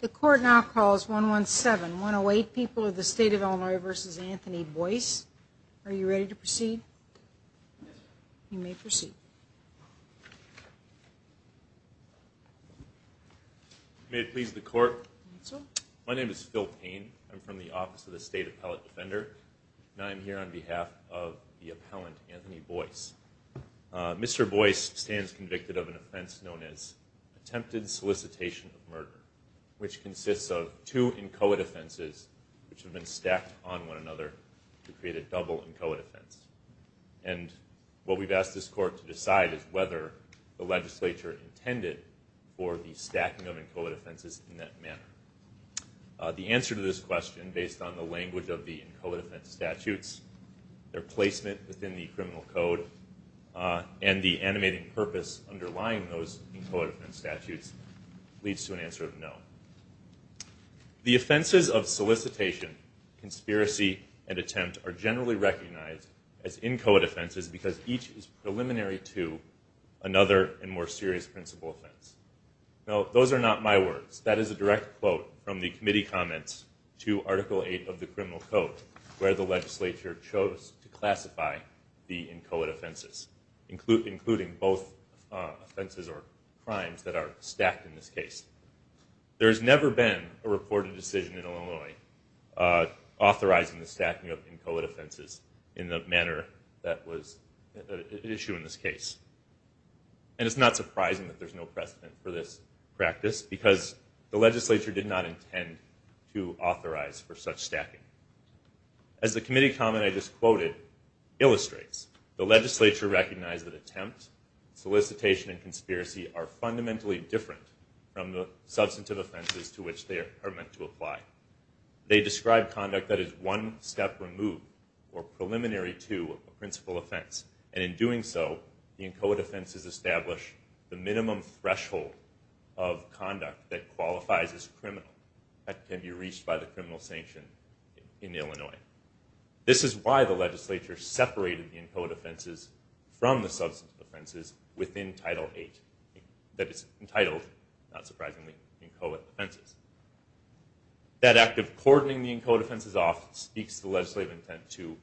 The court now calls 117-108 People of the State of Illinois v. Anthony Boyce. Are you ready to proceed? You may proceed. May it please the court. My name is Phil Payne. I'm from the Office of the State Appellate Defender. I'm here on behalf of the appellant, Anthony Boyce. Mr. Boyce stands convicted of an offense known as attempted solicitation of murder, which consists of two inchoate offenses which have been stacked on one another to create a double inchoate offense. And what we've asked this court to decide is whether the legislature intended for the stacking of inchoate offenses in that manner. The answer to this question, based on the language of the inchoate offense statutes, their placement within the criminal code, and the animating purpose underlying those inchoate offense statutes, leads to an answer of no. The offenses of solicitation, conspiracy, and attempt are generally recognized as inchoate offenses because each is preliminary to another and more serious principal offense. Now, those are not my words. That is a direct quote from the committee comments to Article 8 of the criminal code, where the legislature chose to classify the inchoate offenses, including both offenses or crimes that are stacked in this case. There has never been a reported decision in Illinois authorizing the stacking of inchoate offenses in the manner that was at issue in this case. And it's not surprising that there's no precedent for this practice because the legislature did not intend to authorize for such stacking. As the committee comment I just quoted illustrates, the legislature recognized that attempt, solicitation, and conspiracy are fundamentally different from the substantive offenses to which they are meant to apply. They describe conduct that is one step removed or preliminary to a principal offense, and in doing so, the inchoate offenses establish the minimum threshold of conduct that qualifies as criminal that can be reached by the criminal sanction in Illinois. This is why the legislature separated the inchoate offenses from the substantive offenses within Title 8. That is entitled, not surprisingly, inchoate offenses. That act of cordoning the inchoate offenses off speaks to the legislative intent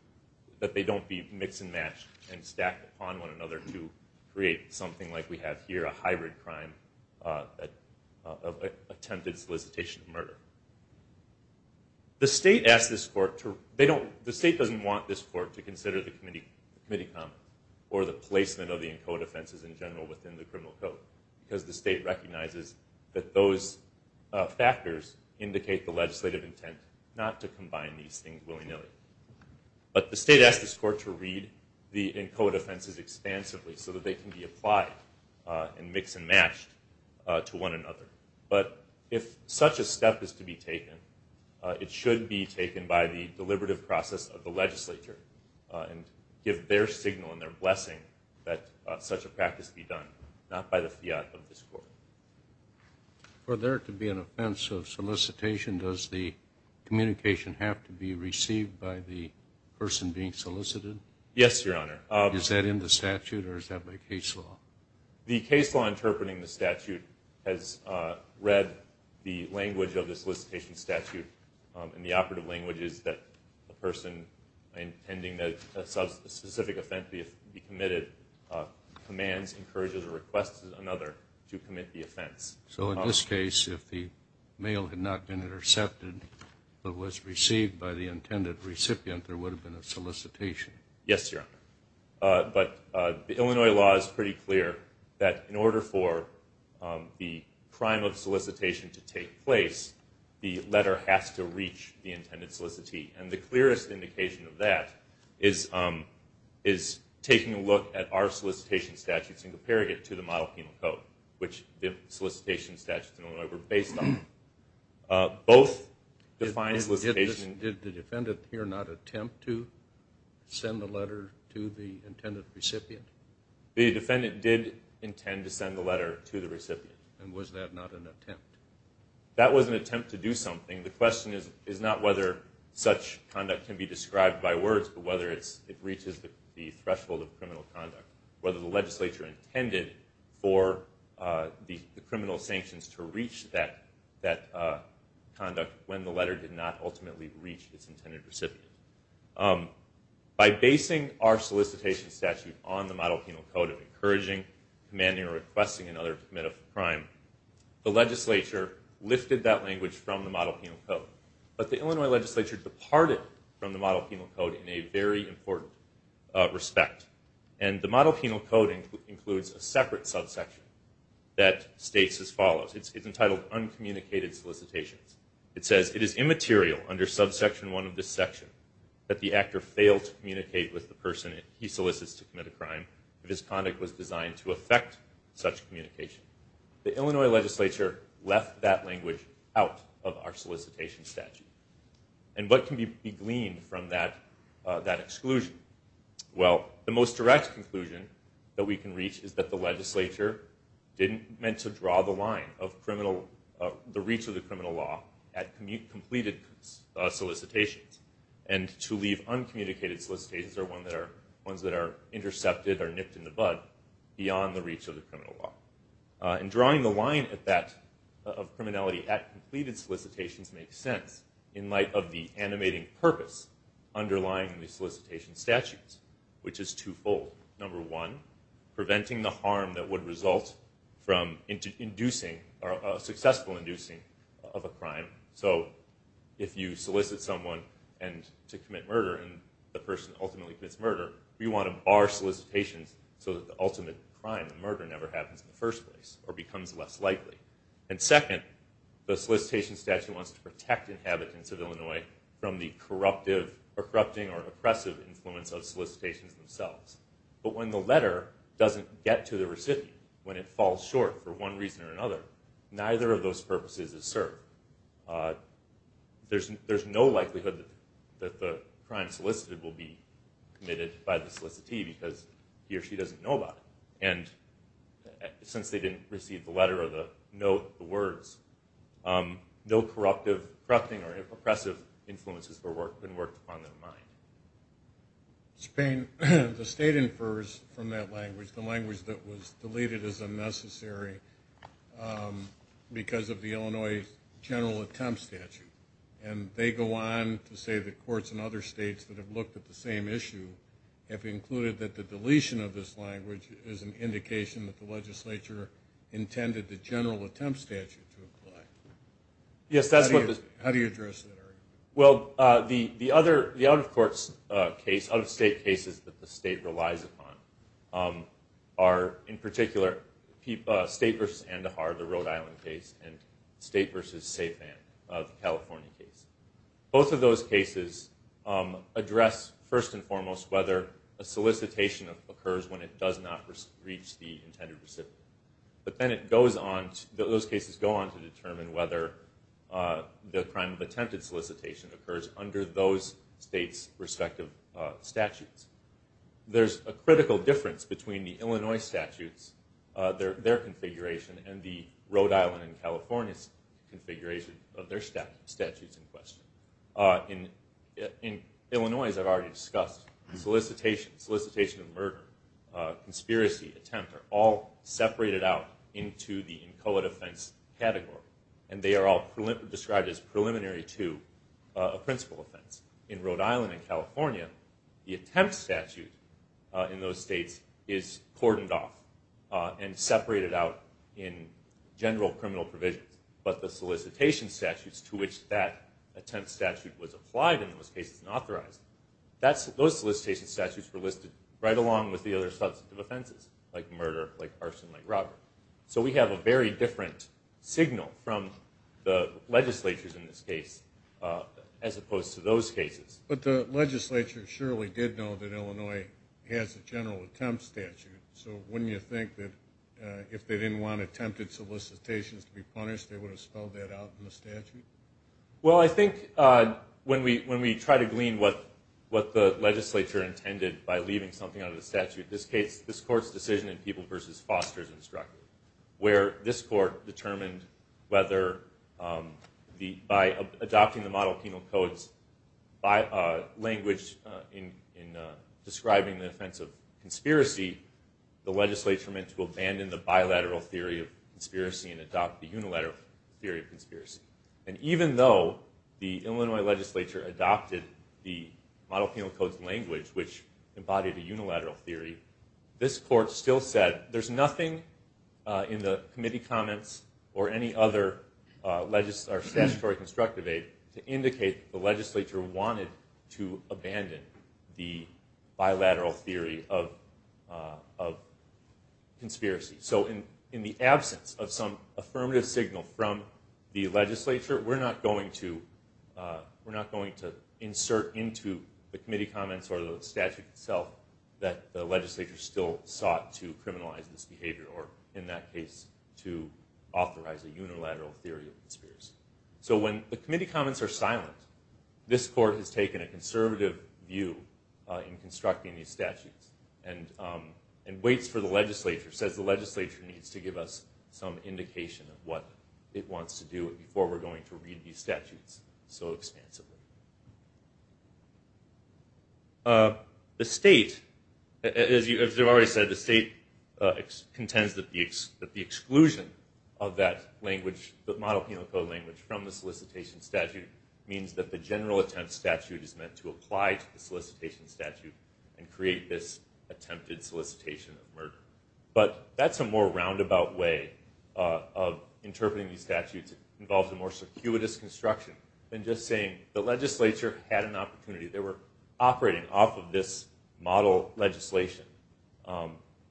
that they don't be mixed and matched and stacked upon one another to create something like we have here, a hybrid crime of attempted solicitation of murder. The state doesn't want this court to consider the committee comment or the placement of the inchoate offenses in general within the criminal code because the state recognizes that those factors indicate the legislative intent not to combine these things willy-nilly. But the state asked this court to read the inchoate offenses expansively so that they can be applied and mixed and matched to one another. But if such a step is to be taken, it should be taken by the deliberative process of the legislature and give their signal and their blessing that such a practice be done, not by the fiat of this court. For there to be an offense of solicitation, does the communication have to be received by the person being solicited? Yes, Your Honor. Is that in the statute or is that by case law? The case law interpreting the statute has read the language of the solicitation statute in the operative languages that a person intending that a specific offense be committed commands, encourages, or requests another to commit the offense. So in this case, if the mail had not been intercepted but was received by the intended recipient, there would have been a solicitation? Yes, Your Honor. But the Illinois law is pretty clear that in order for the crime of solicitation to take place, the letter has to reach the intended solicitee. And the clearest indication of that is taking a look at our solicitation statutes and comparing it to the Model Penal Code, which the solicitation statutes in Illinois were based on. Both define solicitation. Did the defendant here not attempt to send the letter to the intended recipient? The defendant did intend to send the letter to the recipient. And was that not an attempt? That was an attempt to do something. The question is not whether such conduct can be described by words but whether it reaches the threshold of criminal conduct, whether the legislature intended for the criminal sanctions to reach that conduct when the letter did not ultimately reach its intended recipient. By basing our solicitation statute on the Model Penal Code of encouraging, commanding, or requesting another to commit a crime, the legislature lifted that language from the Model Penal Code. But the Illinois legislature departed from the Model Penal Code in a very important respect. And the Model Penal Code includes a separate subsection that states as follows. It's entitled Uncommunicated Solicitations. It says, It is immaterial under subsection 1 of this section that the actor fail to communicate with the person he solicits to commit a crime if his conduct was designed to affect such communication. The Illinois legislature left that language out of our solicitation statute. And what can be gleaned from that exclusion? Well, the most direct conclusion that we can reach is that the legislature didn't meant to draw the line of the reach of the criminal law at completed solicitations and to leave uncommunicated solicitations, or ones that are intercepted or nipped in the bud, beyond the reach of the criminal law. And drawing the line of criminality at completed solicitations makes sense in light of the animating purpose underlying the solicitation statutes, which is twofold. Number one, preventing the harm that would result from inducing or successful inducing of a crime. So if you solicit someone to commit murder and the person ultimately commits murder, we want to bar solicitations so that the ultimate crime, the murder, never happens in the first place or becomes less likely. And second, the solicitation statute wants to protect inhabitants of Illinois from the corrupting or oppressive influence of solicitations themselves. But when the letter doesn't get to the recipient, when it falls short for one reason or another, neither of those purposes is served. There's no likelihood that the crime solicited will be committed by the solicitee because he or she doesn't know about it. And since they didn't receive the letter or the note, the words, no corrupting or oppressive influences have been worked upon in their mind. Mr. Payne, the state infers from that language, the language that was deleted as unnecessary, because of the Illinois General Attempt Statute. And they go on to say that courts in other states that have looked at the same issue have included that the deletion of this language is an indication that the legislature intended the General Attempt Statute to apply. Yes, that's what the- How do you address that, Eric? Well, the out-of-courts case, out-of-state cases that the state relies upon, are, in particular, State v. Andahar, the Rhode Island case, and State v. Saifan, the California case. Both of those cases address, first and foremost, whether a solicitation occurs when it does not reach the intended recipient. But then it goes on, those cases go on to determine whether the crime of attempted solicitation occurs under those states' respective statutes. There's a critical difference between the Illinois statutes, their configuration, and the Rhode Island and California's configuration of their statutes in question. In Illinois, as I've already discussed, solicitation, solicitation of murder, conspiracy, attempt, are all separated out into the inchoate offense category. And they are all described as preliminary to a principal offense. In Rhode Island and California, the attempt statute in those states is cordoned off and separated out in general criminal provisions. But the solicitation statutes to which that attempt statute was applied in those cases and authorized, those solicitation statutes were listed right along with the other substantive offenses, like murder, like arson, like robbery. So we have a very different signal from the legislatures in this case, as opposed to those cases. But the legislature surely did know that Illinois has a general attempt statute. So wouldn't you think that if they didn't want attempted solicitations to be punished, they would have spelled that out in the statute? Well, I think when we try to glean what the legislature intended by leaving something out of the statute, this court's decision in People v. Foster is instructive, where this court determined whether by adopting the model penal codes by language in describing the offense of conspiracy, the legislature meant to abandon the bilateral theory of conspiracy and adopt the unilateral theory of conspiracy. And even though the Illinois legislature adopted the model penal codes language, which embodied a unilateral theory, this court still said, there's nothing in the committee comments or any other statutory constructive aid to indicate the legislature wanted to abandon the bilateral theory of conspiracy. So in the absence of some affirmative signal from the legislature, we're not going to insert into the committee comments or the statute itself that the legislature still sought to criminalize this behavior, or in that case, to authorize a unilateral theory of conspiracy. So when the committee comments are silent, this court has taken a conservative view in constructing these statutes and waits for the legislature, says the legislature needs to give us some indication of what it wants to do before we're going to read these statutes so expansively. The state, as you've already said, the state contends that the exclusion of that language, the model penal code language from the solicitation statute, means that the general attempt statute is meant to apply to the solicitation statute and create this attempted solicitation of murder. But that's a more roundabout way of interpreting these statutes, involves a more circuitous construction than just saying the legislature had an opportunity. They were operating off of this model legislation.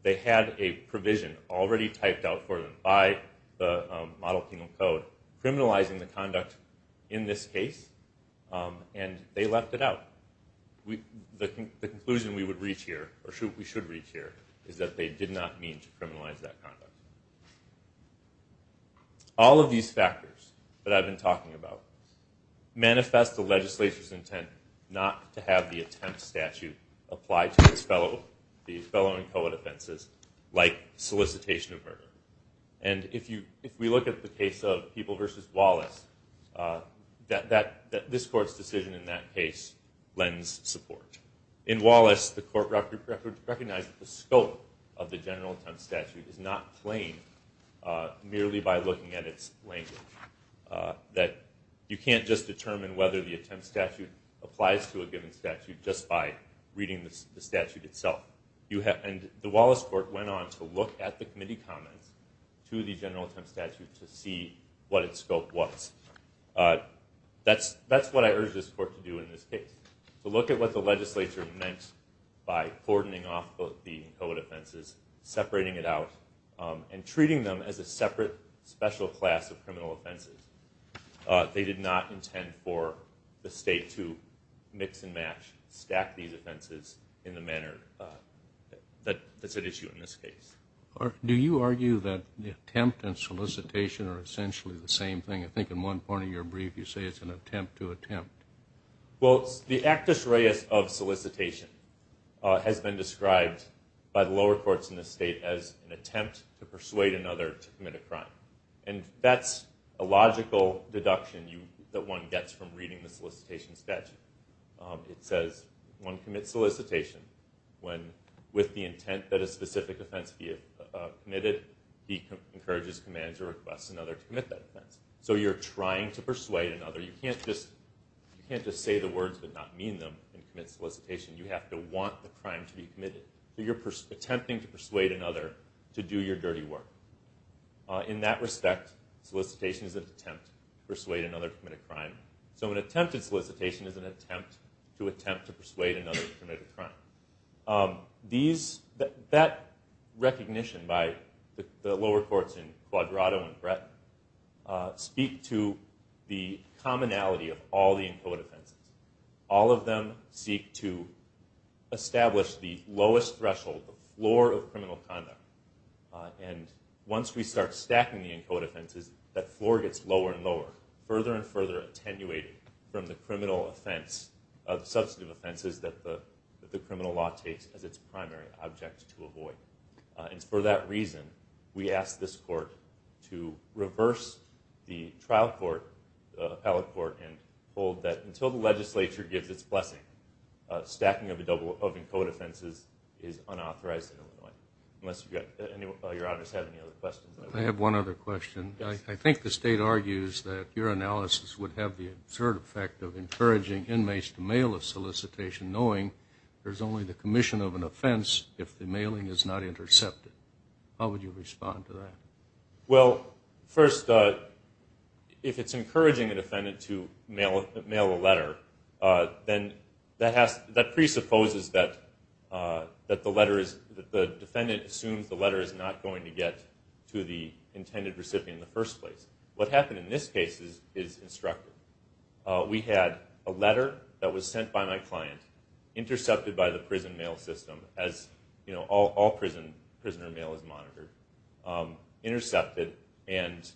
They had a provision already typed out for them by the model penal code criminalizing the conduct in this case, and they left it out. The conclusion we would reach here, or we should reach here, is that they did not mean to criminalize that conduct. All of these factors that I've been talking about manifest the legislature's intent not to have the attempt statute apply to these fellow and co-defenses like solicitation of murder. And if we look at the case of People v. Wallace, this court's decision in that case lends support. In Wallace, the court recognized that the scope of the general attempt statute is not plain merely by looking at its language, that you can't just determine whether the attempt statute applies to a given statute just by reading the statute itself. And the Wallace court went on to look at the committee comments to the general attempt statute to see what its scope was. That's what I urge this court to do in this case, to look at what the legislature meant by cordoning off both the co-defenses, separating it out, and treating them as a separate special class of criminal offenses. They did not intend for the state to mix and match, stack these offenses in the manner that's at issue in this case. Do you argue that the attempt and solicitation are essentially the same thing? I think in one part of your brief you say it's an attempt to attempt. Well, the actus reus of solicitation has been described by the lower courts in this state as an attempt to persuade another to commit a crime. And that's a logical deduction that one gets from reading the solicitation statute. It says one commits solicitation when, with the intent that a specific offense be committed, he encourages, commands, or requests another to commit that offense. So you're trying to persuade another. You can't just say the words but not mean them and commit solicitation. You have to want the crime to be committed. So you're attempting to persuade another to do your dirty work. In that respect, solicitation is an attempt to persuade another to commit a crime. So an attempted solicitation is an attempt to attempt to persuade another to commit a crime. That recognition by the lower courts in Quadrato and Bretton speak to the commonality of all the ENCODE offenses. All of them seek to establish the lowest threshold, the floor of criminal conduct. And once we start stacking the ENCODE offenses, that floor gets lower and lower, further and further attenuated from the criminal offense, the substantive offenses that the criminal law takes as its primary object to avoid. And for that reason, we ask this court to reverse the trial court, the appellate court, and hold that until the legislature gives its blessing, stacking of ENCODE offenses is unauthorized in Illinois. Unless you have any other questions. I have one other question. I think the state argues that your analysis would have the absurd effect of encouraging inmates to mail a solicitation knowing there's only the commission of an offense if the mailing is not intercepted. How would you respond to that? Well, first, if it's encouraging a defendant to mail a letter, then that presupposes that the defendant assumes the letter is not going to get to the intended recipient in the first place. What happened in this case is instructive. We had a letter that was sent by my client, intercepted by the prison mail system, as all prisoner mail is monitored, intercepted, and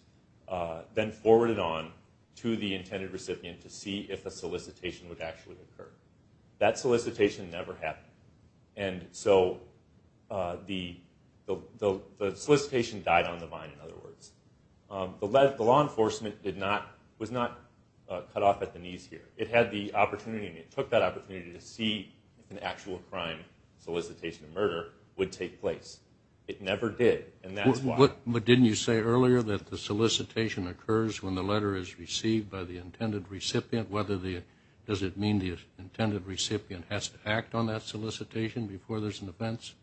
then forwarded on to the intended recipient to see if a solicitation would actually occur. That solicitation never happened. And so the solicitation died on the vine, in other words. The law enforcement was not cut off at the knees here. It had the opportunity, and it took that opportunity, to see if an actual crime solicitation murder would take place. It never did, and that's why. But didn't you say earlier that the solicitation occurs when the letter is received by the intended recipient? Does it mean the intended recipient has to act on that solicitation before there's an offense?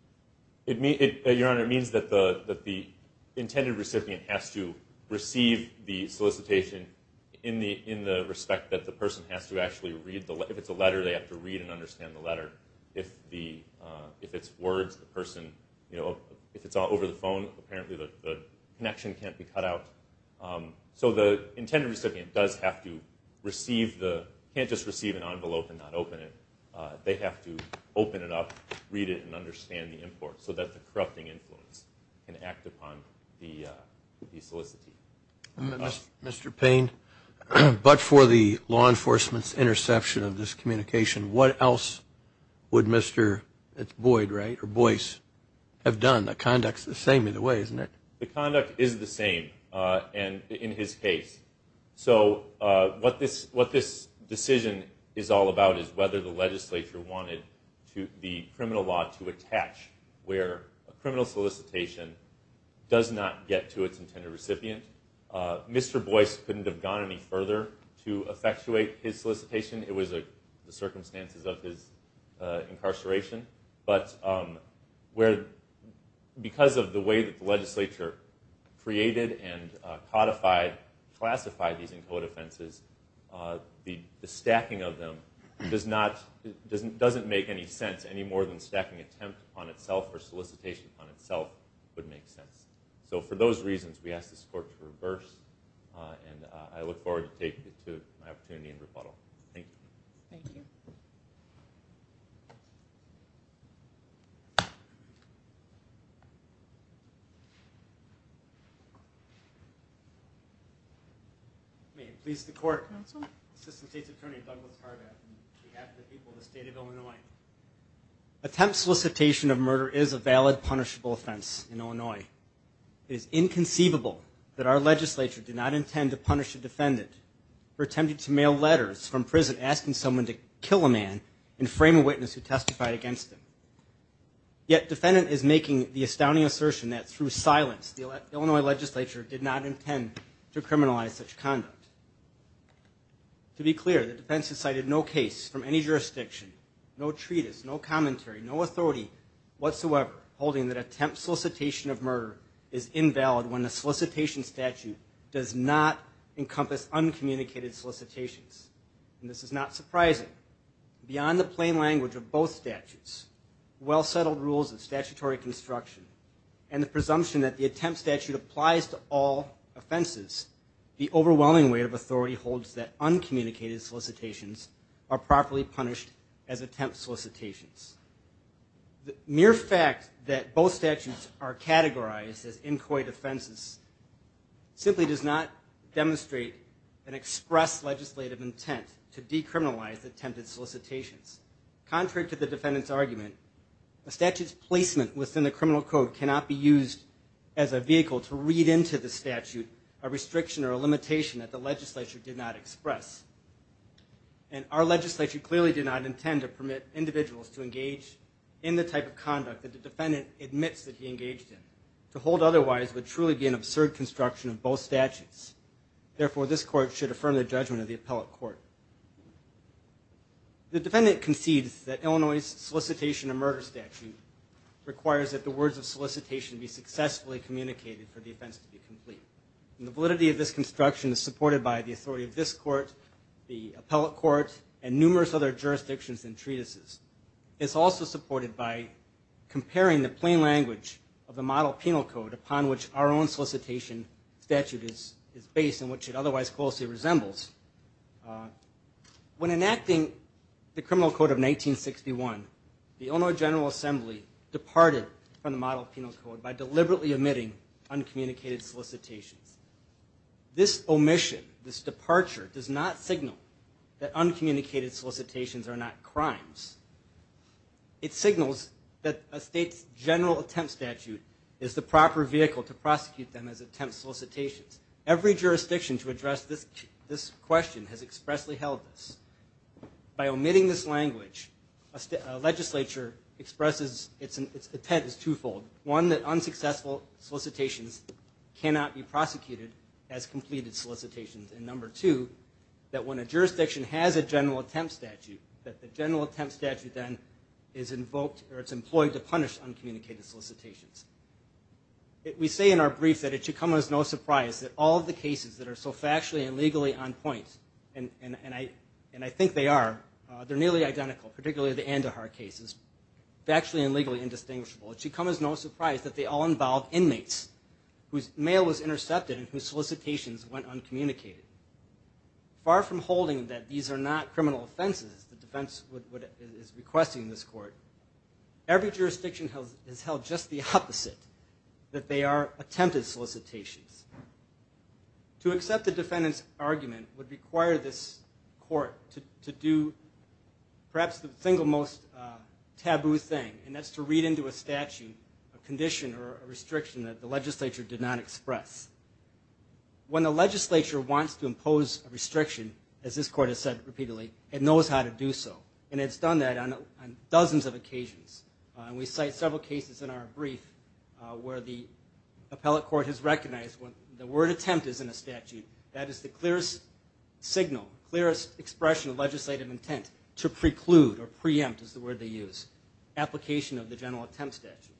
Your Honor, it means that the intended recipient has to receive the solicitation in the respect that the person has to actually read the letter. If it's a letter, they have to read and understand the letter. If it's words, the person, you know, if it's all over the phone, apparently the connection can't be cut out. So the intended recipient does have to receive the, can't just receive an envelope and not open it. They have to open it up, read it, and understand the import, so that the corrupting influence can act upon the solicitation. Mr. Payne, but for the law enforcement's interception of this communication, what else would Mr. Boyd, right, or Boyce have done? The conduct's the same either way, isn't it? The conduct is the same in his case. So what this decision is all about is whether the legislature wanted the criminal law to attach where a criminal solicitation does not get to its intended recipient. Mr. Boyce couldn't have gone any further to effectuate his solicitation. It was the circumstances of his incarceration. But because of the way that the legislature created and codified, classified these in code offenses, the stacking of them doesn't make any sense any more than stacking attempt upon itself or solicitation upon itself would make sense. So for those reasons, we ask this court to reverse, and I look forward to taking it to my opportunity in rebuttal. Thank you. Thank you. May it please the Court. Counsel. Assistant State's Attorney, Douglas Harvath, on behalf of the people of the State of Illinois. Attempt solicitation of murder is a valid punishable offense in Illinois. It is inconceivable that our legislature did not intend to punish a defendant for attempting to mail letters from prison asking someone to kill a man and frame a witness who testified against him. Yet defendant is making the astounding assertion that through silence, the Illinois legislature did not intend to criminalize such conduct. To be clear, the defendant cited no case from any jurisdiction, no treatise, no commentary, no authority whatsoever holding that attempt solicitation of murder is invalid when the solicitation statute does not encompass uncommunicated solicitations. And this is not surprising. Beyond the plain language of both statutes, well-settled rules of statutory construction, and the presumption that the attempt statute applies to all offenses, the overwhelming weight of authority holds that uncommunicated solicitations are properly punished as attempt solicitations. The mere fact that both statutes are categorized as inquiry defenses simply does not demonstrate an express legislative intent to decriminalize attempted solicitations. Contrary to the defendant's argument, a statute's placement within the criminal code cannot be used as a vehicle to read into the statute a restriction or a limitation that the legislature did not express. And our legislature clearly did not intend to permit individuals to engage in the type of conduct that the defendant admits that he engaged in. To hold otherwise would truly be an absurd construction of both statutes. Therefore, this court should affirm the judgment of the appellate court. The defendant concedes that Illinois' solicitation of murder statute requires that the words of solicitation be successfully communicated for the offense to be complete. The validity of this construction is supported by the authority of this court, the appellate court, and numerous other jurisdictions and treatises. It's also supported by comparing the plain language of the model penal code upon which our own solicitation statute is based and which it otherwise closely resembles. When enacting the criminal code of 1961, the Illinois General Assembly departed from the model penal code by deliberately omitting uncommunicated solicitations. This omission, this departure, does not signal that uncommunicated solicitations are not crimes. It signals that a state's general attempt statute is the proper vehicle to prosecute them as attempt solicitations. Every jurisdiction to address this question has expressly held this. By omitting this language, a legislature expresses its intent is twofold. One, that unsuccessful solicitations cannot be prosecuted as completed solicitations. And number two, that when a jurisdiction has a general attempt statute, that the general attempt statute then is invoked or it's employed to punish uncommunicated solicitations. We say in our brief that it should come as no surprise that all of the cases that are so factually and legally on point, and I think they are, they're nearly identical, particularly the Andahar cases, factually and legally indistinguishable. It should come as no surprise that they all involve inmates whose mail was intercepted and whose solicitations went uncommunicated. Far from holding that these are not criminal offenses, the defense is requesting in this court, every jurisdiction has held just the opposite, that they are attempted solicitations. To accept the defendant's argument would require this court to do perhaps the single most taboo thing, and that's to read into a statute a condition or a restriction that the legislature did not express. When the legislature wants to impose a restriction, as this court has said repeatedly, it knows how to do so. And it's done that on dozens of occasions. And we cite several cases in our brief where the appellate court has recognized when the word attempt is in a statute, that is the clearest signal, clearest expression of legislative intent, to preclude or preempt is the word they use. Application of the general attempt statute.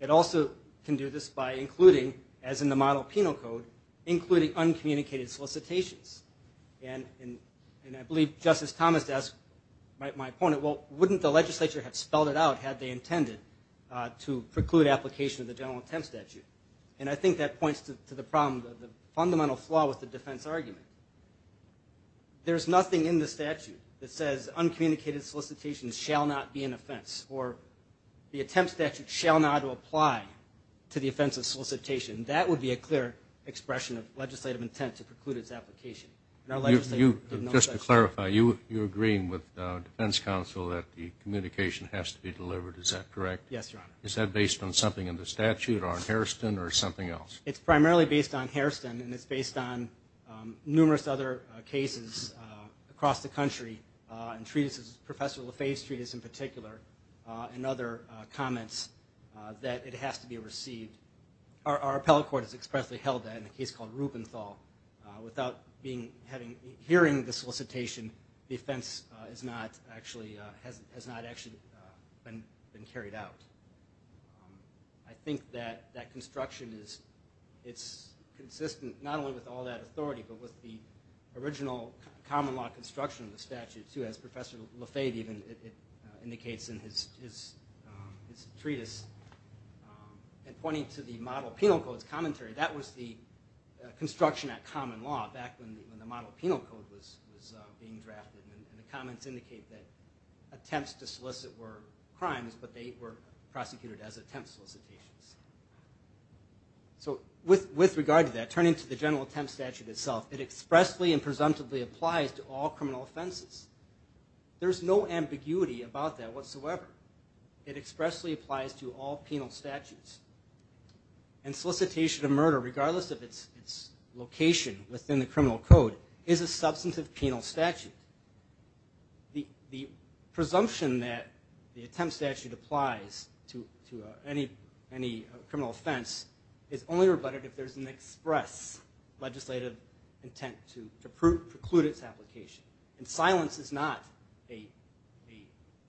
It also can do this by including, as in the model penal code, including uncommunicated solicitations. And I believe Justice Thomas asked my opponent, well, wouldn't the legislature have spelled it out had they intended to preclude application of the general attempt statute? And I think that points to the problem, the fundamental flaw with the defense argument. There's nothing in the statute that says uncommunicated solicitations shall not be an offense. Or the attempt statute shall not apply to the offense of solicitation. That would be a clear expression of legislative intent to preclude its application. Just to clarify, you're agreeing with defense counsel that the communication has to be delivered. Is that correct? Yes, Your Honor. Is that based on something in the statute or in Hairston or something else? It's primarily based on Hairston, and it's based on numerous other cases across the country. And treatises, Professor LaFave's treatise in particular, and other comments that it has to be received. Our appellate court has expressly held that in a case called Rupenthal. Without hearing the solicitation, the offense has not actually been carried out. I think that that construction is consistent not only with all that authority, but with the original common law construction of the statute too, as Professor LaFave even indicates in his treatise. And pointing to the Model Penal Code's commentary, that was the construction at common law back when the Model Penal Code was being drafted. And the comments indicate that attempts to solicit were crimes, but they were prosecuted as attempt solicitations. So with regard to that, turning to the General Attempt Statute itself, it expressly and presumptively applies to all criminal offenses. There's no ambiguity about that whatsoever. It expressly applies to all penal statutes. And solicitation of murder, regardless of its location within the criminal code, is a substantive penal statute. The presumption that the Attempt Statute applies to any criminal offense is only rebutted if there's an express legislative intent to preclude its application. And silence is not an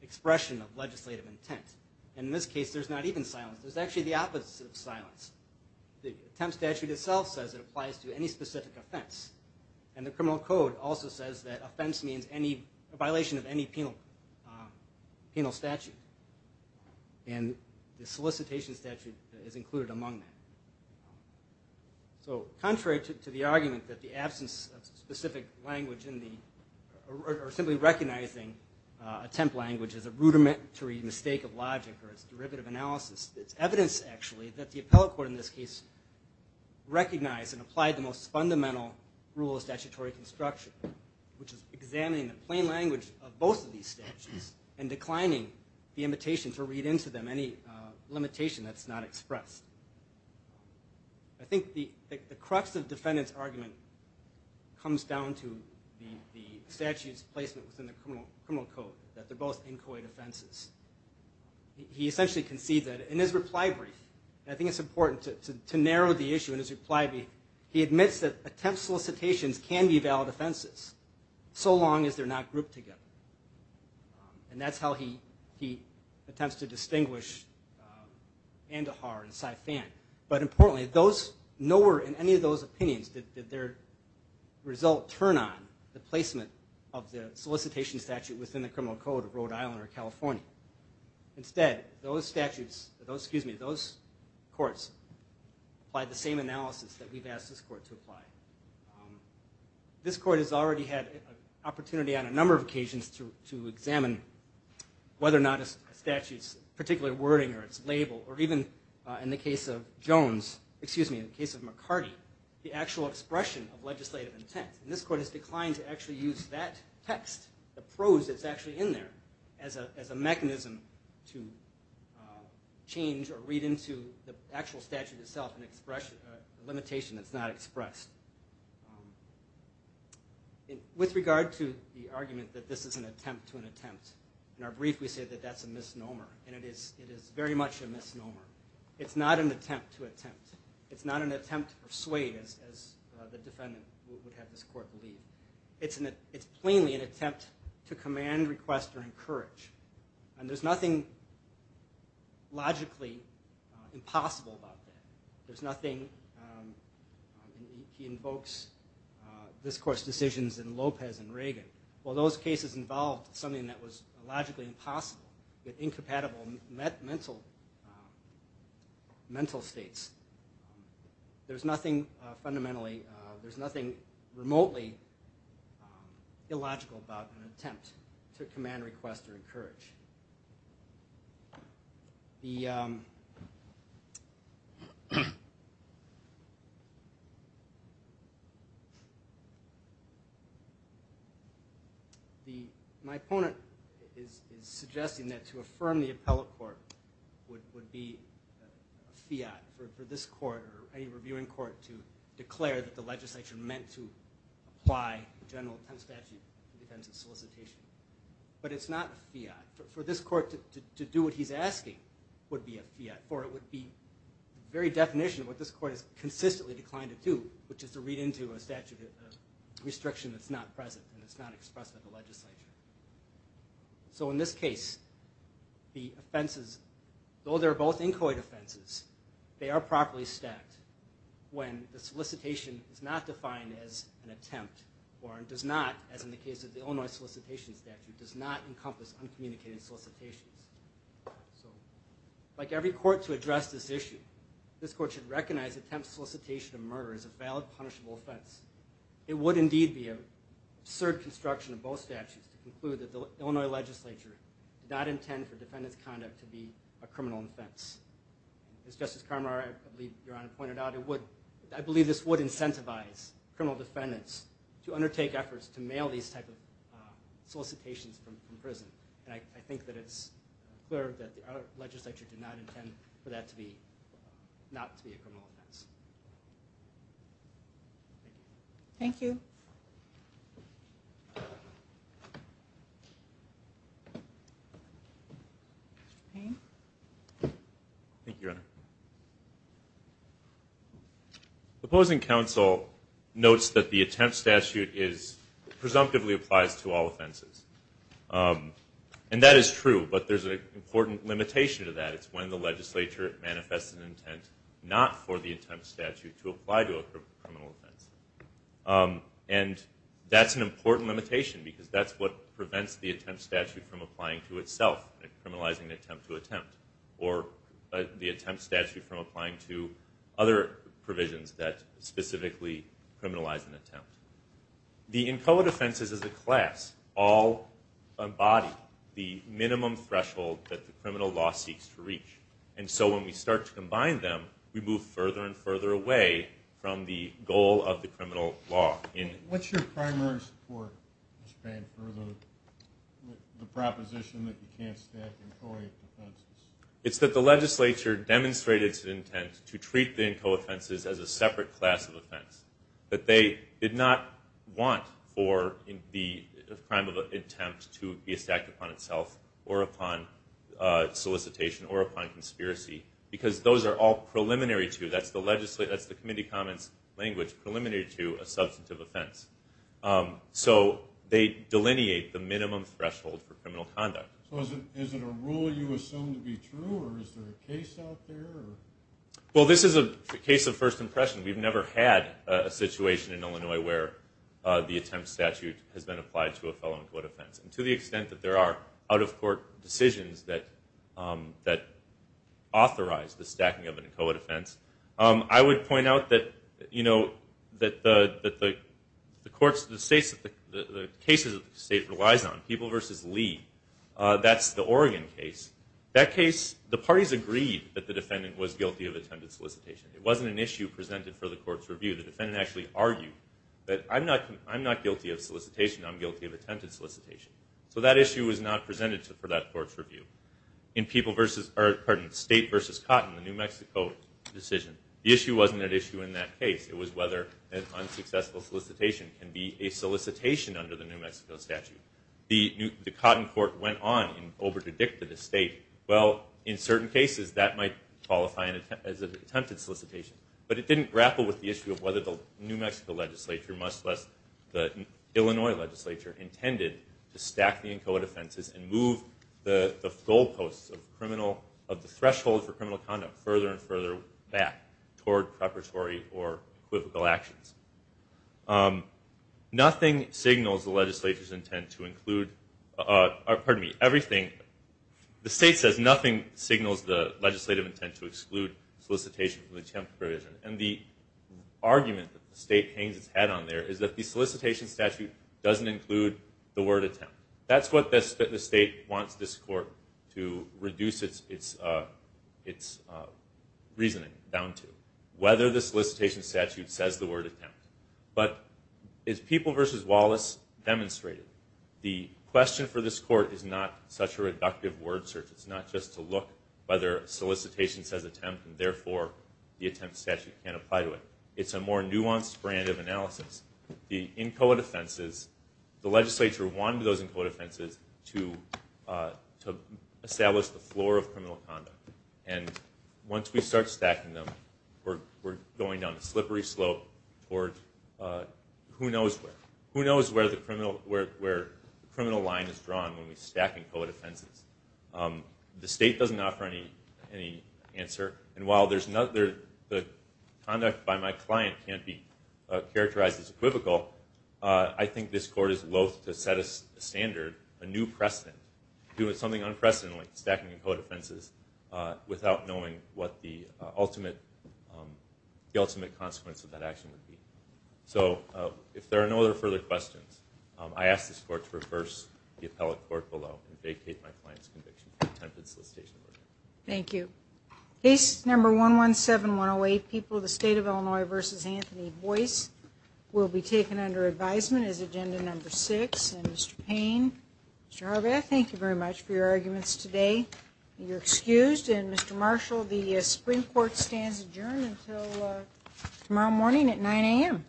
expression of legislative intent. In this case, there's not even silence. There's actually the opposite of silence. The Attempt Statute itself says it applies to any specific offense. And the criminal code also says that offense means a violation of any penal statute. And the solicitation statute is included among that. So contrary to the argument that the absence of specific language in the or simply recognizing attempt language as a rudimentary mistake of logic or as derivative analysis, it's evidence actually that the appellate court in this case recognized and applied the most fundamental rule of statutory construction, which is examining the plain language of both of these statutes and declining the invitation to read into them any limitation that's not expressed. I think the crux of the defendant's argument comes down to the statute's placement within the criminal code, that they're both inchoate offenses. He essentially concedes that. In his reply brief, and I think it's important to narrow the issue in his reply brief, he admits that attempt solicitations can be valid offenses so long as they're not grouped together. And that's how he attempts to distinguish Andahar and Saifan. But importantly, nowhere in any of those opinions did their result turn on the placement of the solicitation statute within the criminal code of Rhode Island or California. Instead, those courts applied the same analysis that we've asked this court to apply. This court has already had an opportunity on a number of occasions to examine whether or not a statute's particular wording or its label, or even in the case of Jones, excuse me, in the case of McCarty, the actual expression of legislative intent. And this court has declined to actually use that text, the prose that's actually in there, as a mechanism to change or read into the actual statute itself a limitation that's not expressed. With regard to the argument that this is an attempt to an attempt, in our brief we say that that's a misnomer. And it is very much a misnomer. It's not an attempt to attempt. It's not an attempt to persuade, as the defendant would have this court believe. It's plainly an attempt to command, request, or encourage. And there's nothing logically impossible about that. There's nothing, he invokes this court's decisions in Lopez and Reagan. Well, those cases involved something that was logically impossible, incompatible mental states. There's nothing fundamentally, there's nothing remotely illogical about an attempt to command, request, or encourage. My opponent is suggesting that to affirm the appellate court would be a fiat for this court or any reviewing court to declare that the legislature meant to apply a general attempt statute in defense of solicitation. But it's not a fiat. For this court to do what he's asking would be a fiat, or it would be the very definition of what this court has consistently declined to do, which is to read into a statute of restriction that's not present and it's not expressed by the legislature. So in this case, the offenses, though they're both inchoate offenses, they are properly stacked when the solicitation is not defined as an attempt or does not, as in the case of the Illinois solicitation statute, does not encompass uncommunicated solicitations. So like every court to address this issue, this court should recognize attempt, solicitation, or murder as a valid, punishable offense. It would indeed be an absurd construction of both statutes to conclude that the Illinois legislature did not intend for defendant's conduct to be a criminal offense. As Justice Carmar, I believe, Your Honor, pointed out, I believe this would incentivize criminal defendants to undertake efforts to mail these type of solicitations from prison. And I think that it's clear that the legislature did not intend for that to be a criminal offense. Thank you. Thank you, Your Honor. The opposing counsel notes that the attempt statute presumptively applies to all offenses. And that is true, but there's an important limitation to that. It's when the legislature manifests an intent not for the attempt statute to apply to a criminal offense. And that's an important limitation because that's what prevents the attempt statute from applying to itself, criminalizing the attempt to attempt, or the attempt statute from applying to other provisions that specifically criminalize an attempt. The inchoate offenses as a class all embody the minimum threshold that the criminal law seeks to reach. And so when we start to combine them, we move further and further away from the goal of the criminal law. What's your primary support, Mr. Pan, for the proposition that you can't stack inchoate offenses? It's that the legislature demonstrated its intent to treat the inchoate offenses as a separate class of offense, that they did not want for the crime of an attempt to be stacked upon itself or upon solicitation or upon conspiracy, because those are all preliminary to, that's the committee comments language, preliminary to a substantive offense. So they delineate the minimum threshold for criminal conduct. So is it a rule you assume to be true, or is there a case out there? Well, this is a case of first impression. We've never had a situation in Illinois where the attempt statute has been applied to a fellow inchoate offense. And to the extent that there are out-of-court decisions that authorize the stacking of an inchoate offense, I would point out that the courts, the cases that the state relies on, People v. Lee, that's the Oregon case. That case, the parties agreed that the defendant was guilty of attempted solicitation. It wasn't an issue presented for the court's review. The defendant actually argued that I'm not guilty of solicitation, I'm guilty of attempted solicitation. So that issue was not presented for that court's review. In State v. Cotton, the New Mexico decision, the issue wasn't an issue in that case. It was whether an unsuccessful solicitation can be a solicitation under the New Mexico statute. The Cotton court went on and over-dedicted the state. Well, in certain cases, that might qualify as an attempted solicitation. But it didn't grapple with the issue of whether the New Mexico legislature, much less the Illinois legislature, intended to stack the inchoate offenses and move the goalposts of the threshold for criminal conduct further and further back toward preparatory or equivocal actions. Nothing signals the legislature's intent to include, pardon me, everything. The state says nothing signals the legislative intent to exclude solicitation from the attempted provision. And the argument that the state hangs its head on there is that the solicitation statute doesn't include the word attempt. That's what the state wants this court to reduce its reasoning down to, whether the solicitation statute says the word attempt. But as People v. Wallace demonstrated, the question for this court is not such a reductive word search. It's not just to look whether solicitation says attempt, and therefore the attempt statute can apply to it. It's a more nuanced brand of analysis. The inchoate offenses, the legislature wanted those inchoate offenses to establish the floor of criminal conduct. And once we start stacking them, we're going down a slippery slope toward who knows where. Who knows where the criminal line is drawn when we stack inchoate offenses. The state doesn't offer any answer. And while the conduct by my client can't be characterized as equivocal, I think this court is loathe to set a standard, a new precedent, to do something unprecedented like stacking inchoate offenses without knowing what the ultimate consequence of that action would be. So if there are no other further questions, I ask this court to reverse the appellate court below and vacate my client's conviction for attempted solicitation. Thank you. Case number 117-108, People v. State of Illinois v. Anthony Boyce will be taken under advisement as agenda number six. And Mr. Payne, Mr. Harbath, thank you very much for your arguments today. You're excused. And Mr. Marshall, the Supreme Court stands adjourned until tomorrow morning at 9 a.m.